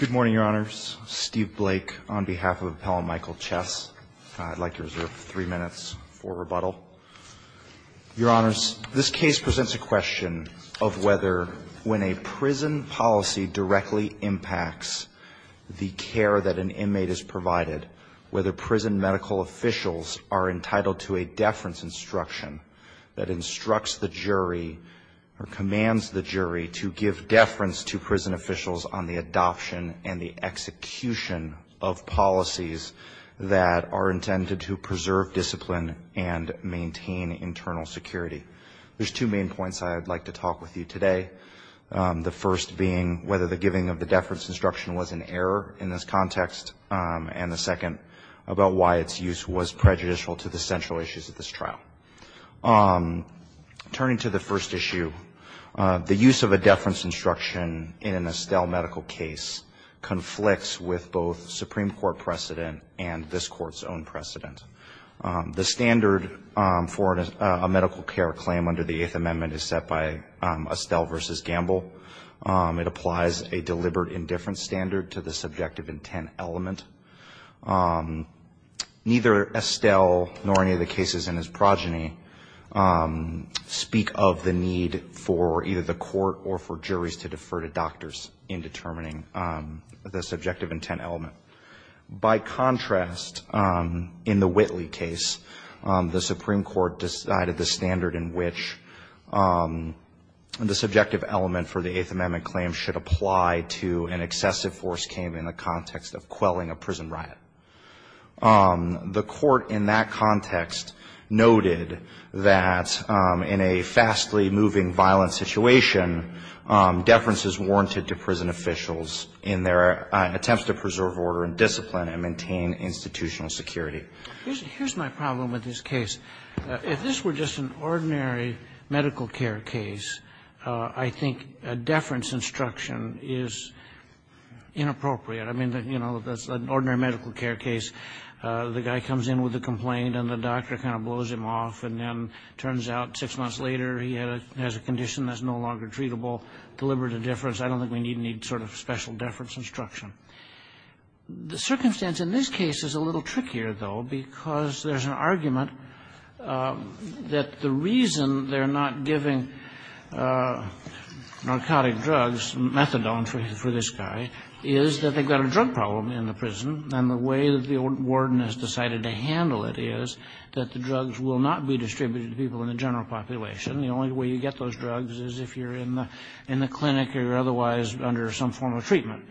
Good morning, Your Honors. Steve Blake on behalf of Appellant Michael Chess. I'd like to reserve three minutes for rebuttal. Your Honors, this case presents a question of whether when a prison policy directly impacts the care that an inmate is provided, whether prison medical officials are entitled to a deference instruction that instructs the jury or commands the jury to give deference to prison officials on the adoption and the execution of policies that are intended to preserve discipline and maintain internal security. There's two main points I'd like to talk with you today, the first being whether the giving of the deference instruction was an error in this context, and the second about why its use was prejudicial to the central issues of this trial. Turning to the first issue, the use of a deference instruction in an Estelle medical case conflicts with both Supreme Court precedent and this Court's own precedent. The standard for a medical care claim under the Eighth Amendment is set by Estelle v. Gamble. It applies a deliberate indifference standard to the subjective intent element. Neither Estelle nor any of the cases in his progeny speak of the need for either the court or for juries to defer to doctors in determining the subjective intent element. By contrast, in the Whitley case, the Supreme Court decided the standard in which the subjective element for the Eighth Amendment claim should apply to an excessive force came in the context of quelling a prison riot. The Court in that context noted that in a fastly moving violent situation, deference is warranted to prison officials in their attempts to preserve order and discipline and maintain institutional security. Here's my problem with this case. If this were just an ordinary medical care case, I think a deference instruction is inappropriate. I mean, you know, that's an ordinary medical care case. The guy comes in with a complaint, and the doctor kind of blows him off, and then it turns out six months later he has a condition that's no longer treatable. Deliberate indifference. I don't think we need any sort of special deference instruction. The circumstance in this case is a little trickier, though, because there's an argument that the reason they're not giving narcotic drugs, methadone for this guy, is that they've got a drug problem in the prison, and the way that the warden has decided to handle it is that the drugs will not be distributed to people in the general population. The only way you get those drugs is if you're in the clinic or you're otherwise under some form of treatment.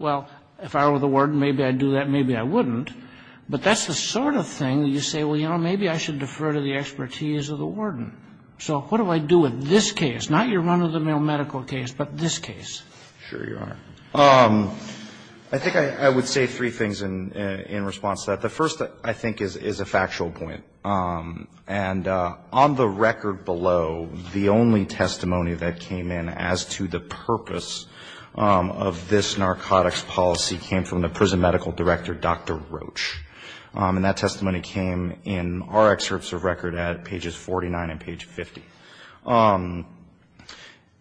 Well, if I were the warden, maybe I'd do that, maybe I wouldn't. But that's the sort of thing that you say, well, you know, maybe I should defer to the expertise of the warden. So what do I do with this case, not your run-of-the-mill medical case, but this case? Sure you are. I think I would say three things in response to that. The first, I think, is a factual point. And on the record below, the only testimony that came in as to the purpose of this narcotics policy came from the prison medical director, Dr. Roach. And that testimony came in our excerpts of record at pages 49 and page 50.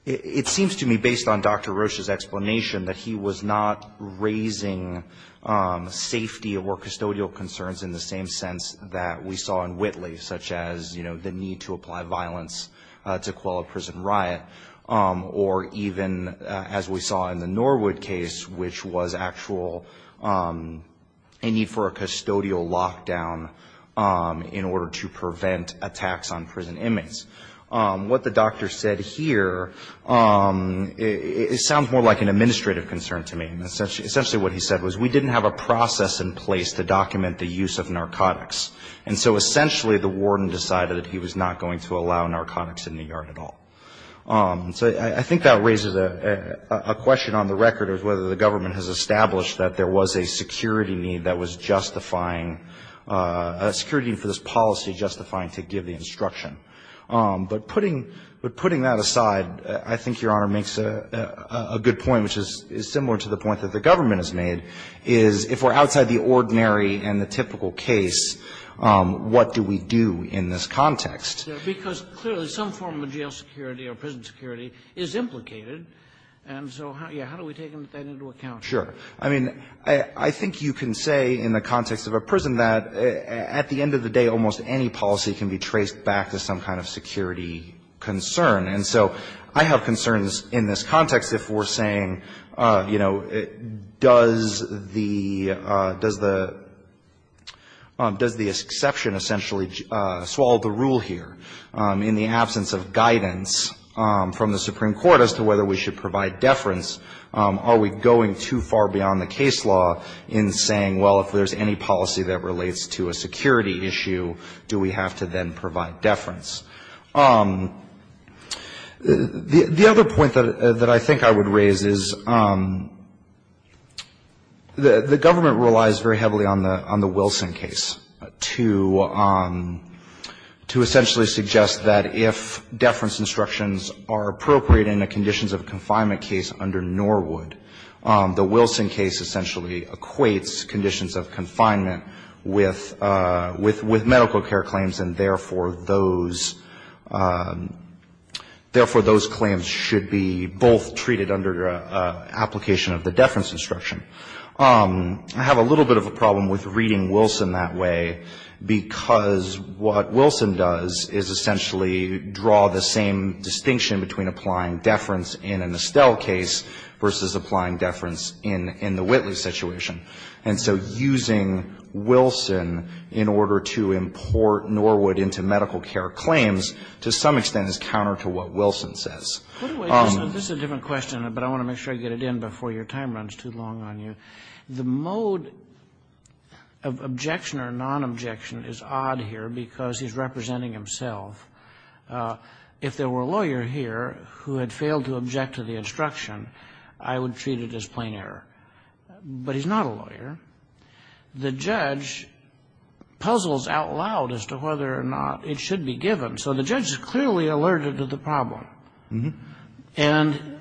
It seems to me, based on Dr. Roach's explanation, that he was not raising safety or custodial concerns in the same sense that we saw in Whitley, such as, you know, the need to apply violence to quell a prison riot, or even as we saw in the Norwood case, which was actual a need for a custodial lockdown in order to prevent attacks on prison inmates. What the doctor said here, it sounds more like an administrative concern to me. Essentially what he said was we didn't have a process in place to document the use of narcotics. And so essentially the warden decided that he was not going to allow narcotics in the yard at all. So I think that raises a question on the record of whether the government has established that there was a security need that was justifying, a security need for this policy justifying to give the instruction. But putting that aside, I think Your Honor makes a good point, which is similar to the point that the government has made, is if we're outside the ordinary and the typical case, what do we do in this context? Because clearly some form of jail security or prison security is implicated, and so how do we take that into account? Sure. I mean, I think you can say in the context of a prison that at the end of the day, almost any policy can be traced back to some kind of security concern. And so I have concerns in this context if we're saying, you know, does the, does the, does the exception essentially swallow the rule here in the absence of guidance from the Supreme Court as to whether we should provide deference? Are we going too far beyond the case law in saying, well, if there's any policy that relates to a security issue, do we have to then provide deference? The other point that I think I would raise is the government relies very heavily on the Wilson case to essentially suggest that if deference instructions are appropriate in a conditions of confinement case under Norwood, the Wilson case essentially equates conditions of confinement with medical care claims, and therefore, those claims should be both treated under application of the deference instruction. I have a little bit of a problem with reading Wilson that way, because what Wilson does is essentially draw the same distinction between applying deference in an Estelle case versus applying deference in the Whitley situation. And so using Wilson in order to import Norwood into medical care claims to some extent is counter to what Wilson says. Kagan. This is a different question, but I want to make sure I get it in before your time runs too long on you. The mode of objection or non-objection is odd here because he's representing himself. If there were a lawyer here who had failed to object to the instruction, I would treat it as plain error. But he's not a lawyer. The judge puzzles out loud as to whether or not it should be given. So the judge is clearly alerted to the problem. And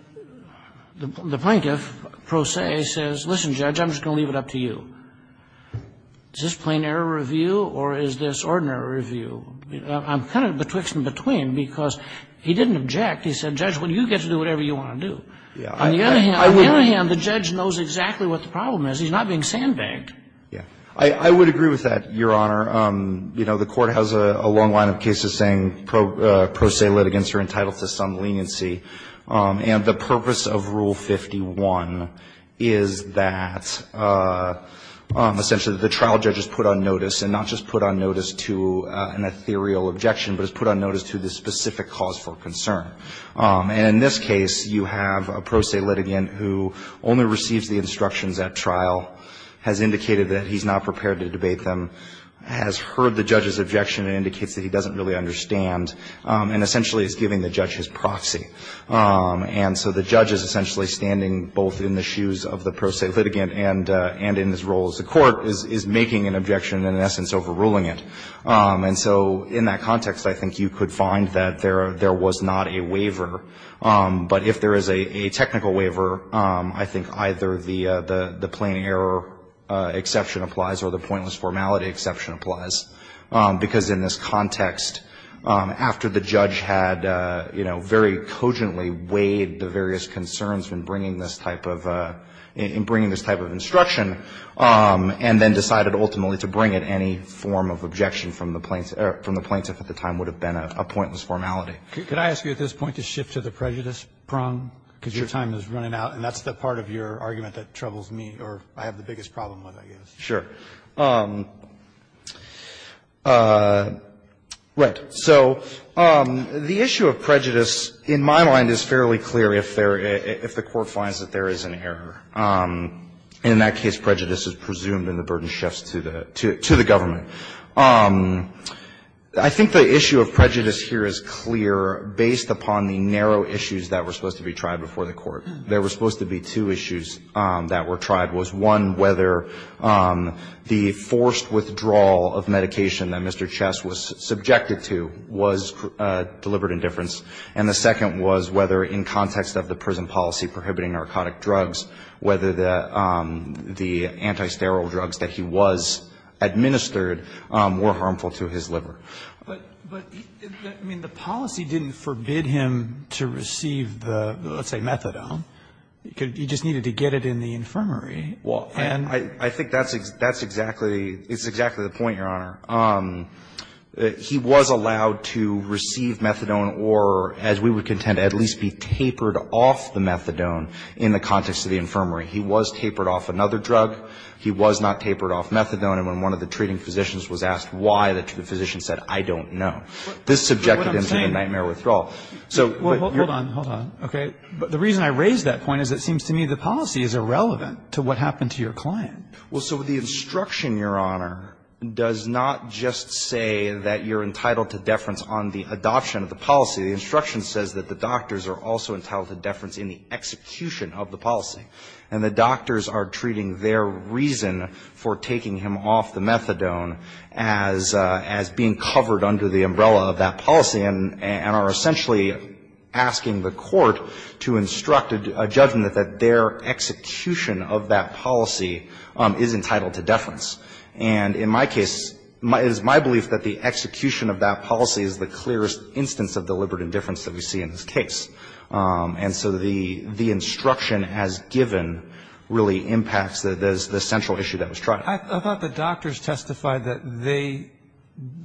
the plaintiff, pro se, says, listen, Judge, I'm just going to leave it up to you. Is this plain error review or is this ordinary review? I'm kind of betwixt and between because he didn't object. He said, Judge, well, you get to do whatever you want to do. On the other hand, the judge knows exactly what the problem is. He's not being sandbagged. Yeah. I would agree with that, Your Honor. You know, the court has a long line of cases saying pro se litigants are entitled to some leniency. And the purpose of Rule 51 is that essentially the trial judge is put on notice and not just put on notice to an ethereal objection, but is put on notice to the specific cause for concern. And in this case, you have a pro se litigant who only receives the instructions at trial, has indicated that he's not prepared to debate them, has heard the judge's objection and indicates that he doesn't really understand, and essentially is giving the judge his proxy. And so the judge is essentially standing both in the shoes of the pro se litigant and in his role as a court, is making an objection and in essence overruling it. And so in that context, I think you could find that there was not a waiver. But if there is a technical waiver, I think either the plain error exception applies or the pointless formality exception applies. Because in this context, after the judge had, you know, very cogently weighed the various concerns in bringing this type of instruction and then decided ultimately to bring it, any form of objection from the plaintiff at the time would have been a pointless formality. Could I ask you at this point to shift to the prejudice prong? Because your time is running out, and that's the part of your argument that troubles me or I have the biggest problem with, I guess. Sure. Right. So the issue of prejudice, in my mind, is fairly clear if there — if the Court finds that there is an error. And in that case, prejudice is presumed and the burden shifts to the government. I think the issue of prejudice here is clear based upon the narrow issues that were supposed to be tried before the Court. There were supposed to be two issues that were tried, was, one, whether the forced withdrawal of medication that Mr. Chess was subjected to was deliberate indifference, and the second was whether in context of the prison policy prohibiting narcotic drugs, whether the anti-sterile drugs that he was administered were harmful to his liver. But, I mean, the policy didn't forbid him to receive the, let's say, methadone. He just needed to get it in the infirmary. Well, I think that's exactly — it's exactly the point, Your Honor. He was allowed to receive methadone or, as we would contend, at least be tapered off the methadone in the context of the infirmary. He was tapered off another drug. He was not tapered off methadone. And when one of the treating physicians was asked why, the physician said, I don't know. This subjected him to the nightmare withdrawal. So — Well, hold on. Hold on. Okay. The reason I raise that point is it seems to me the policy is irrelevant to what happened to your client. Well, so the instruction, Your Honor, does not just say that you're entitled to deference on the adoption of the policy. The instruction says that the doctors are also entitled to deference in the execution of the policy. And the doctors are treating their reason for taking him off the methadone as being covered under the umbrella of that policy and are essentially asking the court to instruct a judgment that their execution of that policy is entitled to deference. And in my case, it is my belief that the execution of that policy is the clearest instance of deliberate indifference that we see in this case. And so the instruction as given really impacts the central issue that was tried. I thought the doctors testified that they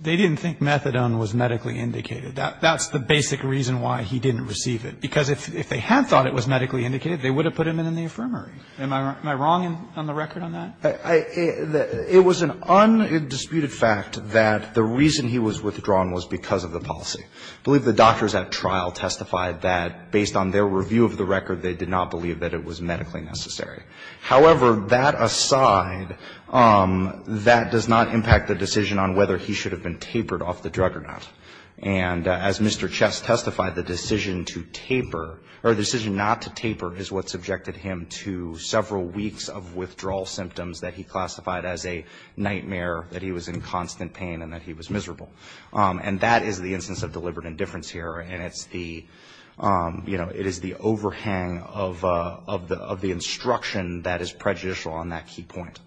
didn't think methadone was medically indicated. That's the basic reason why he didn't receive it, because if they had thought it was medically indicated, they would have put him in the infirmary. Am I wrong on the record on that? It was an undisputed fact that the reason he was withdrawn was because of the policy. I believe the doctors at trial testified that, based on their review of the record, they did not believe that it was medically necessary. However, that aside, that does not impact the decision on whether he should have been tapered off the drug or not. And as Mr. Chess testified, the decision to taper, or the decision not to taper, is what subjected him to several weeks of withdrawal symptoms that he classified as a nightmare, that he was in constant pain and that he was miserable. And that is the instance of deliberate indifference here. And it's the, you know, it is the overhang of the instruction that is prejudicial on that key point.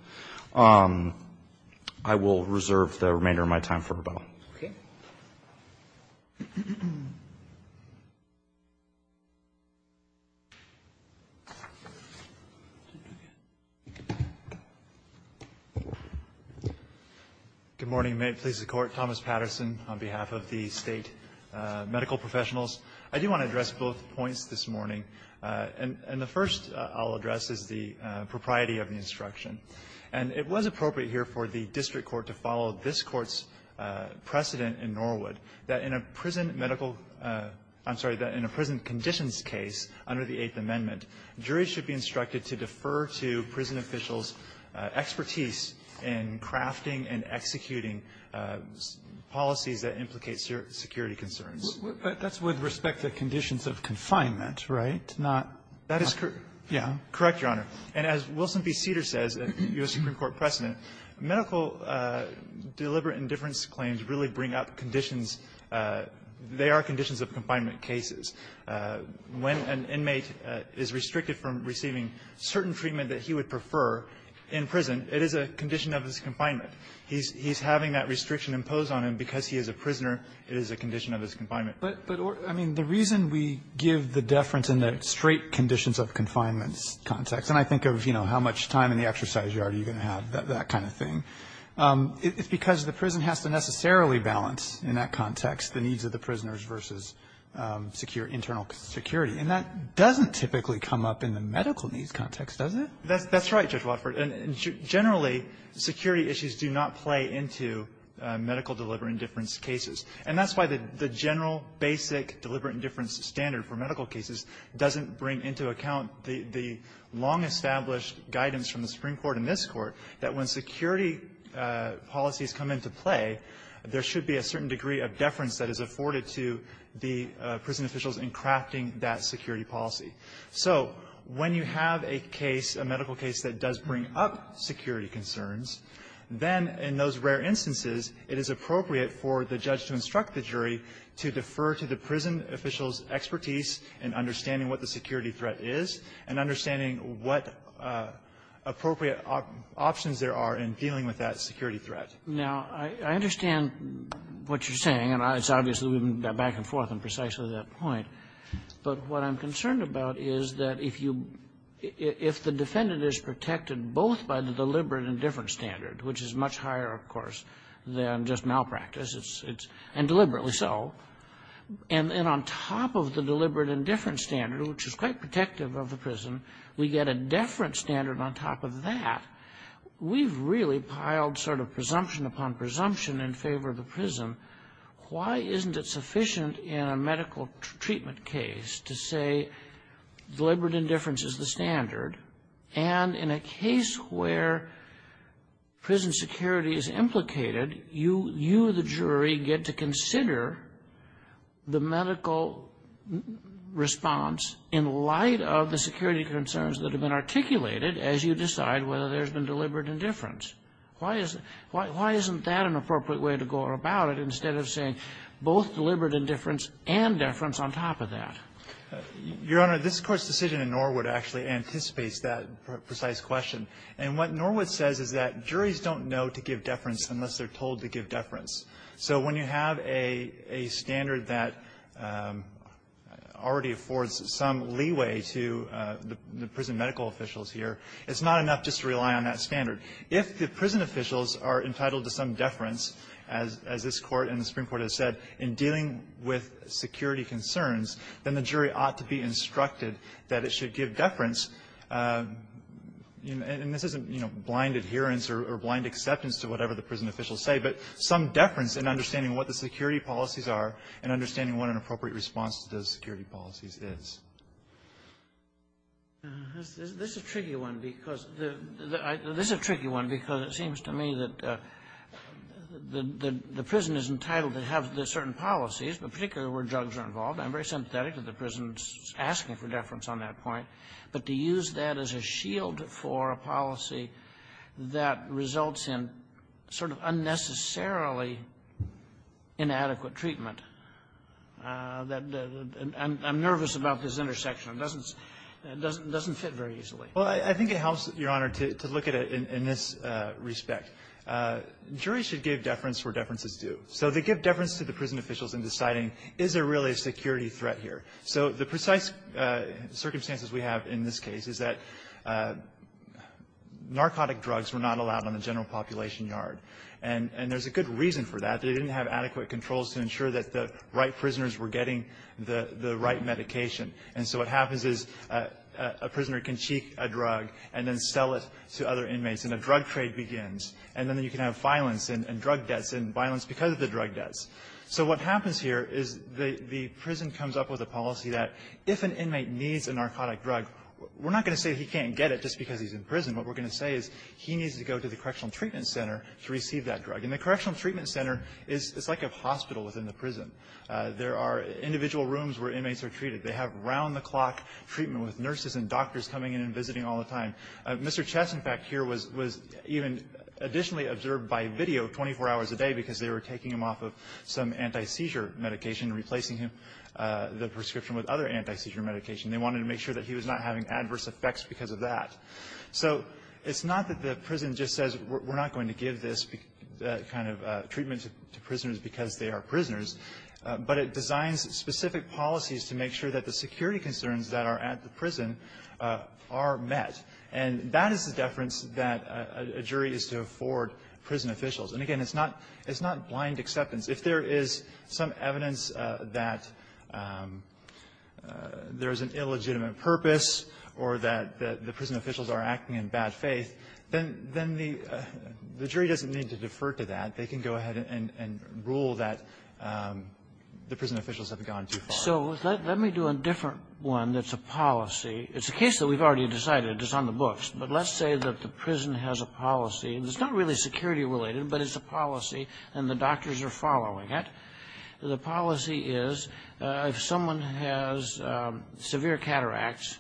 I will reserve the remainder of my time for rebuttal. Okay. Thank you. Good morning. May it please the Court. Thomas Patterson on behalf of the State Medical Professionals. I do want to address both points this morning. And the first I'll address is the propriety of the instruction. And it was appropriate here for the district court to follow this Court's precedent in Norwood, that in a prison medical – I'm sorry, that in a prison conditions case under the Eighth Amendment, juries should be instructed to defer to prison officials' expertise in crafting and executing policies that implicate security concerns. But that's with respect to conditions of confinement, right, not – That is correct. Correct, Your Honor. And as Wilson v. Cedar says, U.S. Supreme Court precedent, medical deliberate indifference claims really bring up conditions. They are conditions of confinement cases. When an inmate is restricted from receiving certain treatment that he would prefer in prison, it is a condition of his confinement. He's having that restriction imposed on him because he is a prisoner. It is a condition of his confinement. But, I mean, the reason we give the deference in the straight conditions of confinement context, and I think of, you know, how much time in the exercise yard are you going to have, that kind of thing, it's because the prison has to necessarily balance in that context the needs of the prisoners versus secure internal security. And that doesn't typically come up in the medical needs context, does it? That's right, Judge Wofford. And generally, security issues do not play into medical deliberate indifference cases. And that's why the general basic deliberate indifference standard for medical cases doesn't bring into account the long-established guidance from the Supreme Court and this Court that when security policies come into play, there should be a certain degree of deference that is afforded to the prison officials in crafting that security policy. So when you have a case, a medical case, that does bring up security concerns, then in those rare instances, it is appropriate for the judge to instruct the jury to defer to the prison officials' expertise in understanding what the security threat is and understanding what appropriate options there are in dealing with that security threat. Now, I understand what you're saying, and it's obvious that we've been back and forth on precisely that point. But what I'm concerned about is that if you — if the defendant is protected both by the deliberate indifference standard, which is much higher, of course, than just malpractice, it's — and deliberately so, and on top of the deliberate indifference standard, which is quite protective of the prison, we get a deference standard on top of that. We've really piled sort of presumption upon presumption in favor of the prison. Why isn't it sufficient in a medical treatment case to say deliberate indifference is the standard, and in a case where prison security is implicated, you, the jury, get to consider the medical response in light of the security concerns that have been articulated as you decide whether there's been deliberate indifference? Why isn't that an appropriate way to go about it instead of saying both deliberate indifference and deference on top of that? Your Honor, this Court's decision in Norwood actually anticipates that precise question. And what Norwood says is that juries don't know to give deference unless they're told to give deference. So when you have a standard that already affords some leeway to the prison medical officials here, it's not enough just to rely on that standard. If the prison officials are entitled to some deference, as this Court and the Supreme Court have said, to the security concerns, then the jury ought to be instructed that it should give deference, and this isn't, you know, blind adherence or blind acceptance to whatever the prison officials say, but some deference in understanding what the security policies are and understanding what an appropriate response to those security policies is. This is a tricky one because it seems to me that the prison is entitled to have certain policies, but particularly where drugs are involved. I'm very sympathetic to the prison's asking for deference on that point. But to use that as a shield for a policy that results in sort of unnecessarily inadequate treatment, I'm nervous about this intersection. It doesn't fit very easily. Well, I think it helps, Your Honor, to look at it in this respect. Juries should give deference where deference is due. So they give deference to the prison officials in deciding, is there really a security threat here? So the precise circumstances we have in this case is that narcotic drugs were not allowed on the general population yard. And there's a good reason for that. They didn't have adequate controls to ensure that the right prisoners were getting the right medication. And so what happens is a prisoner can cheat a drug and then sell it to other inmates, and a drug trade begins, and then you can have violence and drug debts and violence because of the drug debts. So what happens here is the prison comes up with a policy that if an inmate needs a narcotic drug, we're not going to say he can't get it just because he's in prison. What we're going to say is he needs to go to the correctional treatment center to receive that drug. And the correctional treatment center is like a hospital within the prison. There are individual rooms where inmates are treated. They have round-the-clock treatment with nurses and doctors coming in and visiting all the time. Mr. Chess, in fact, here was even additionally observed by video 24 hours a day because they were taking him off of some anti-seizure medication and replacing him the prescription with other anti-seizure medication. They wanted to make sure that he was not having adverse effects because of that. So it's not that the prison just says we're not going to give this kind of treatment to prisoners because they are prisoners, but it designs specific policies to make sure that the security concerns that are at the prison are met. And that is the deference that a jury is to afford prison officials. And, again, it's not blind acceptance. If there is some evidence that there is an illegitimate purpose or that the prison officials are acting in bad faith, then the jury doesn't need to defer to that. They can go ahead and rule that the prison officials have gone too far. Kagan. So let me do a different one that's a policy. It's a case that we've already decided. It's on the books. But let's say that the prison has a policy. And it's not really security-related, but it's a policy, and the doctors are following it. The policy is if someone has severe cataracts,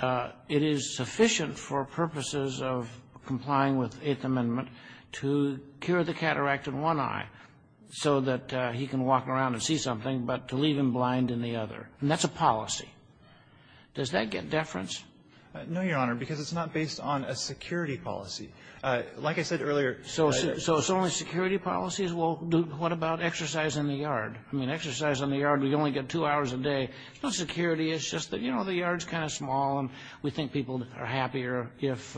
it is sufficient for purposes of complying with Eighth Amendment to cure the cataract in one eye so that he can walk around and see something, but to leave him blind in the other. And that's a policy. Does that get deference? No, Your Honor, because it's not based on a security policy. Like I said earlier, I don't know. So it's only security policies? Well, what about exercise in the yard? I mean, exercise in the yard, we only get two hours a day. It's not security. It's just that, you know, the yard is kind of small, and we think people are happier if,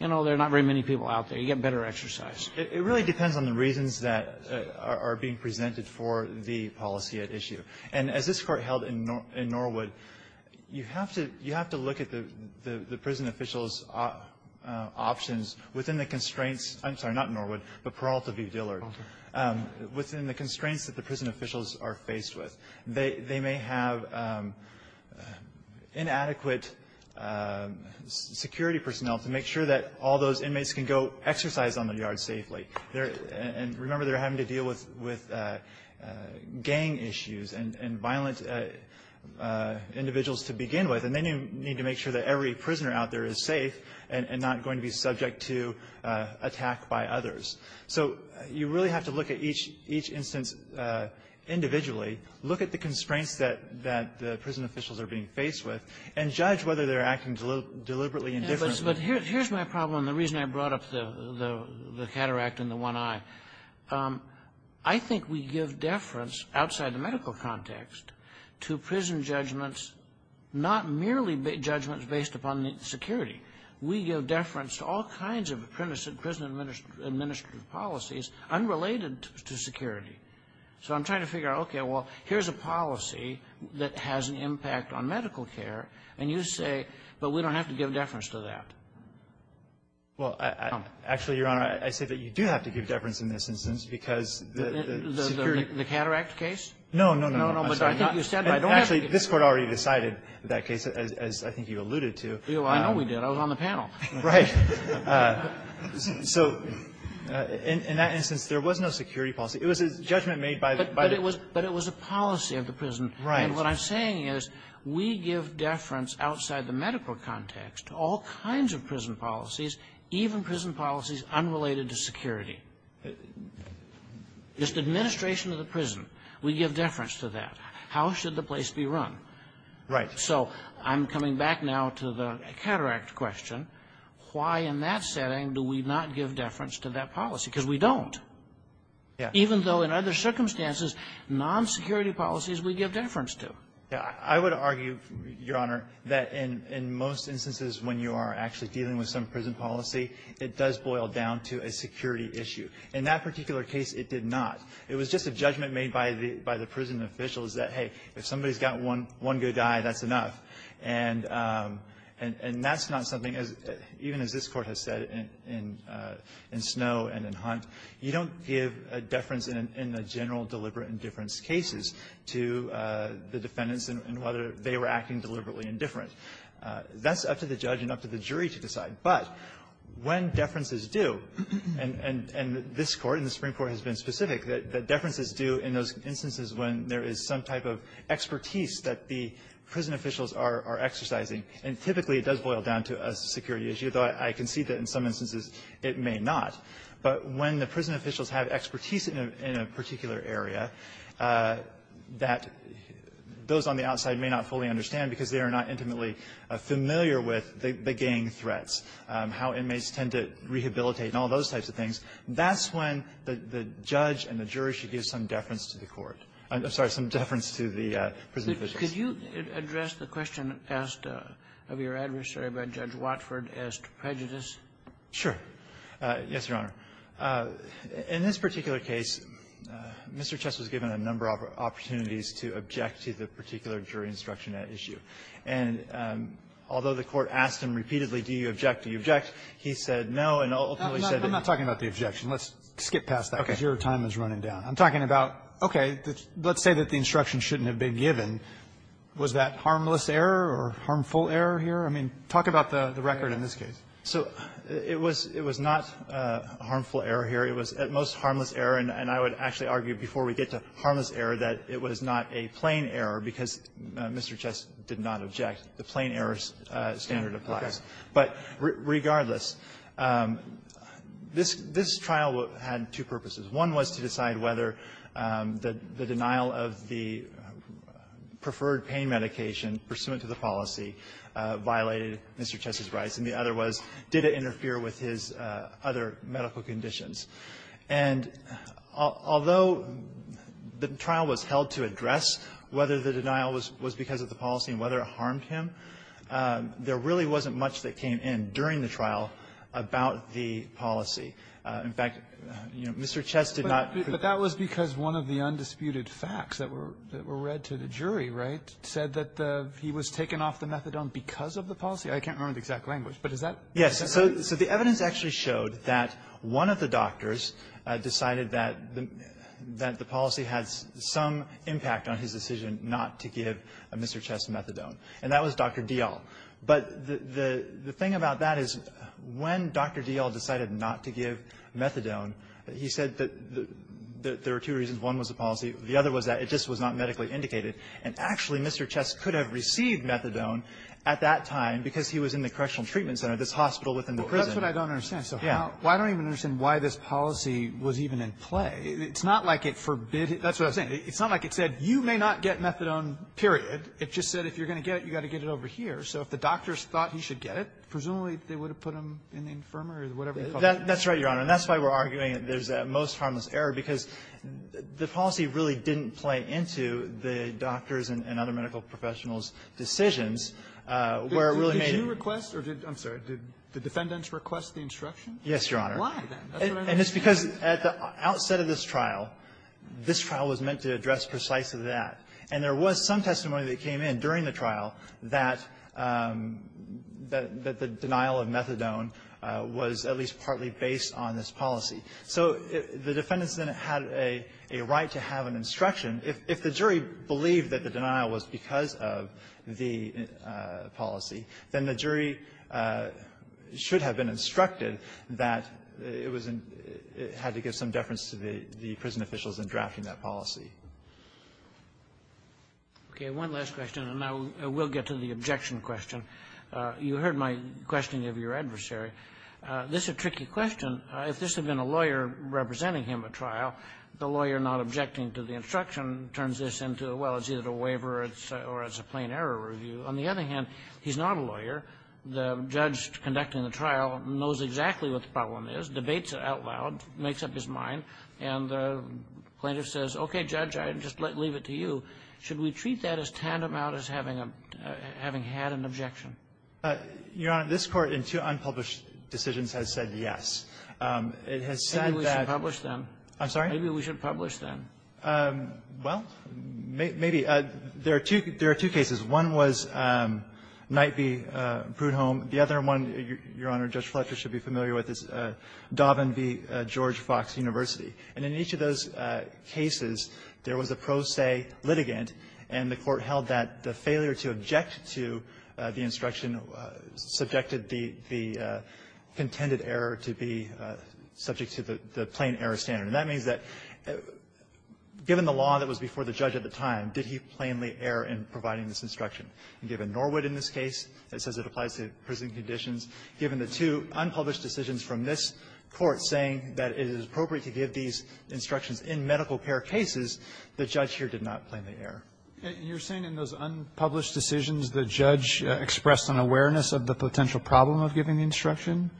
you know, there are not very many people out there. You get better exercise. It really depends on the reasons that are being presented for the policy at issue. And as this Court held in Norwood, you have to look at the prison officials' options within the constraints of the prison officials are faced with. They may have inadequate security personnel to make sure that all those inmates can go exercise on the yard safely. And remember, they're having to deal with gang issues and violent individuals to begin with, and they need to make sure that every prisoner out there is safe and not going to be subject to attack by others. So you really have to look at each instance individually, look at the constraints that the prison officials are being faced with, and judge whether they're acting deliberately indifferently. But here's my problem, and the reason I brought up the cataract and the one eye. I think we give deference, outside the medical context, to prison judgments, not merely judgments based upon the security. We give deference to all kinds of prison administrative policies unrelated to security. So I'm trying to figure out, okay, well, here's a policy that has an impact on medical care, and you say, but we don't have to give deference to that. Well, actually, Your Honor, I say that you do have to give deference in this instance because the security of the cataract case. No, no, no, I'm sorry. No, no, but I think you said that. Actually, this Court already decided that case, as I think you alluded to. I know we did. I was on the panel. Right. So in that instance, there was no security policy. It was a judgment made by the prison. But it was a policy of the prison. Right. And what I'm saying is we give deference outside the medical context to all kinds of prison policies, even prison policies unrelated to security. It's the administration of the prison. We give deference to that. How should the place be run? Right. So I'm coming back now to the cataract question. Why, in that setting, do we not give deference to that policy? Because we don't. Yeah. Even though, in other circumstances, non-security policies we give deference to. I would argue, Your Honor, that in most instances when you are actually dealing with some prison policy, it does boil down to a security issue. In that particular case, it did not. It was just a judgment made by the prison officials that, hey, if somebody's got one good eye, that's enough. And that's not something, even as this Court has said in Snow and in Hunt, you don't give deference in the general deliberate indifference cases to the defendants and whether they were acting deliberately indifferent. That's up to the judge and up to the jury to decide. But when deference is due, and this Court and the Supreme Court has been specific that deference is due in those instances when there is some type of expertise that the prison officials are exercising, and typically it does boil down to a security issue, though I concede that in some instances it may not. But when the prison officials have expertise in a particular area, that those on the outside may not fully understand because they are not intimately familiar with the how inmates tend to rehabilitate and all those types of things, that's when the judge and the jury should give some deference to the Court. I'm sorry, some deference to the prison officials. Kagan. Could you address the question asked of your adversary by Judge Watford as to prejudice? Sure. Yes, Your Honor. In this particular case, Mr. Chess was given a number of opportunities to object to the particular jury instruction at issue. And although the Court asked him repeatedly, do you object, do you object, he said no, and ultimately said that you're not talking about the objection. Let's skip past that because your time is running down. I'm talking about, okay, let's say that the instruction shouldn't have been given. Was that harmless error or harmful error here? I mean, talk about the record in this case. So it was not a harmful error here. It was, at most, harmless error. And I would actually argue, before we get to harmless error, that it was not a plain error because Mr. Chess did not object. The plain error standard applies. But regardless, this trial had two purposes. One was to decide whether the denial of the preferred pain medication pursuant to the policy violated Mr. Chess's rights, and the other was, did it interfere with his other medical conditions. And although the trial was held to address whether the denial was because of the policy and whether it harmed him, there really wasn't much that came in during the trial about the policy. In fact, Mr. Chess did not present the verdict. But that was because one of the undisputed facts that were read to the jury, right, said that he was taken off the methadone because of the policy. I can't remember the exact language. But is that correct? Yes. So the evidence actually showed that one of the doctors decided that the policy had some impact on his decision not to give Mr. Chess methadone, and that was Dr. Dial. But the thing about that is when Dr. Dial decided not to give methadone, he said that there were two reasons. One was the policy. The other was that it just was not medically indicated. And actually, Mr. Chess could have received methadone at that time because he was in the correctional treatment center, this hospital within the prison. But that's what I don't understand. So how do I even understand why this policy was even in play? It's not like it forbids it. That's what I'm saying. It's not like it said, you may not get methadone, period. It just said if you're going to get it, you've got to get it over here. So if the doctors thought he should get it, presumably, they would have put him in the infirmary or whatever you call it. That's right, Your Honor. And that's why we're arguing that there's a most harmless error, because the policy really didn't play into the doctors' and other medical professionals' decisions where it really made it. Did you request or did the defendants request the instruction? Yes, Your Honor. Why, then? And it's because at the outset of this trial, this trial was meant to address precisely that. And there was some testimony that came in during the trial that the denial of methadone was at least partly based on this policy. So the defendants then had a right to have an instruction. If the jury believed that the denial was because of the policy, then the jury should have been instructed that it was in the ---- had to give some deference to the prison officials in drafting that policy. Okay. One last question, and then we'll get to the objection question. You heard my questioning of your adversary. This is a tricky question. If this had been a lawyer representing him at trial, the lawyer not objecting to the instruction turns this into, well, it's either a waiver or it's a plain error review. On the other hand, he's not a lawyer. The judge conducting the trial knows exactly what the problem is, debates it out loud, makes up his mind, and the plaintiff says, okay, judge, I'll just leave it to you. Should we treat that as tantamount as having a ---- having had an objection? Your Honor, this Court in two unpublished decisions has said yes. It has said that ---- Maybe we should publish, then. I'm sorry? Maybe we should publish, then. Well, maybe. There are two cases. One was Night v. Prudhomme. The other one, Your Honor, Judge Fletcher should be familiar with, is Dobbin v. George Fox University. And in each of those cases, there was a pro se litigant, and the Court held that the failure to object to the instruction subjected the contended error to be subject to the plain error standard. And that means that, given the law that was before the judge at the time, did he plainly err in providing this instruction? And given Norwood in this case, it says it applies to prison conditions, given the two unpublished decisions from this Court saying that it is appropriate to give these instructions in medical care cases, the judge here did not plainly err. And you're saying in those unpublished decisions, the judge expressed an awareness of the potential problem of giving the instruction,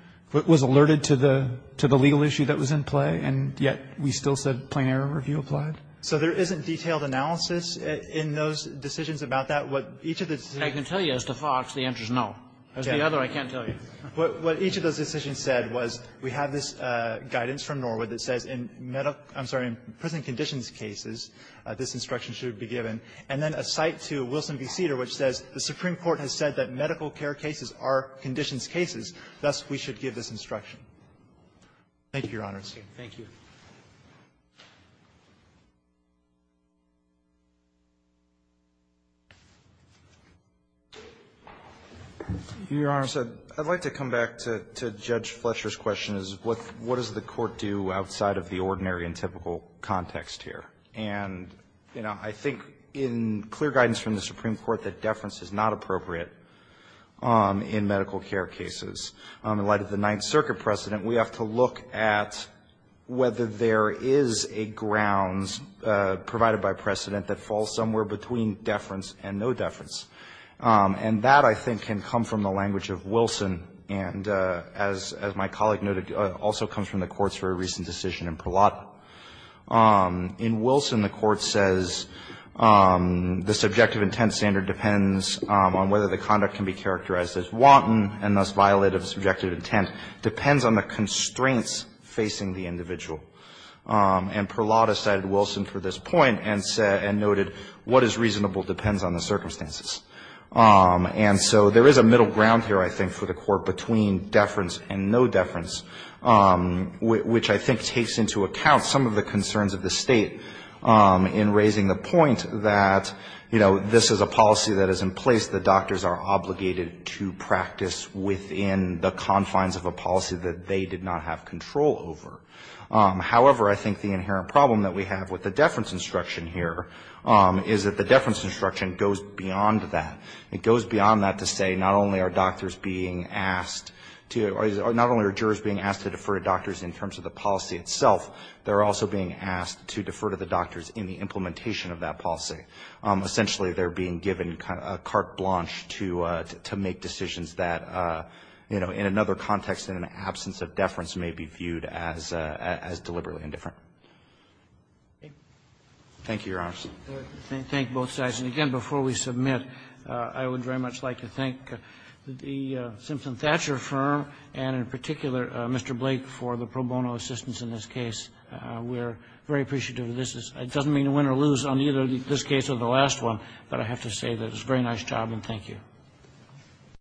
was alerted to the legal issue that was in play, and yet we still said plain error review applied? So there isn't detailed analysis in those decisions about that. What each of the decisions said was we have this guidance from Norwood that says in prison conditions cases, this instruction should be given, and then a cite to Wilson v. Cedar, which says the Supreme Court has said that medical care cases are conditions cases, thus we should give this instruction. Thank you, Your Honor. Thank you. Your Honor, I'd like to come back to Judge Fletcher's question, is what does the Court do outside of the ordinary and typical context here? And, you know, I think in clear guidance from the Supreme Court that deference is not appropriate in medical care cases. In light of the Ninth Circuit precedent, we have to look at whether there is a grounds provided by precedent that falls somewhere between deference and no deference. And that, I think, can come from the language of Wilson, and as my colleague noted, also comes from the Court's very recent decision in Perlott. In Wilson, the Court says the subjective intent standard depends on whether the conduct can be characterized as wanton and, thus, violated subjective intent, depends on the constraints facing the individual. And Perlott has cited Wilson for this point and noted what is reasonable depends on the circumstances. And so there is a middle ground here, I think, for the Court between deference and no deference, which I think takes into account some of the concerns of the State in raising the point that, you know, this is a policy that is in place, the doctors are obligated to practice within the confines of a policy that they did not have control over. However, I think the inherent problem that we have with the deference instruction here is that the deference instruction goes beyond that. It goes beyond that to say not only are doctors being asked to or not only are jurors being asked to defer to doctors in terms of the policy itself, they are also being asked to defer to the doctors in the implementation of that policy. Essentially, they are being given a carte blanche to make decisions that, you know, in another context, in an absence of deference, may be viewed as deliberately indifferent. Thank you, Your Honor. Roberts. Kennedy. Thank you, both sides. And again, before we submit, I would very much like to thank the Simpson-Thatcher firm and, in particular, Mr. Blake for the pro bono assistance in this case. We are very appreciative of this. It doesn't mean win or lose on either this case or the last one, but I have to say that it's a very nice job and thank you.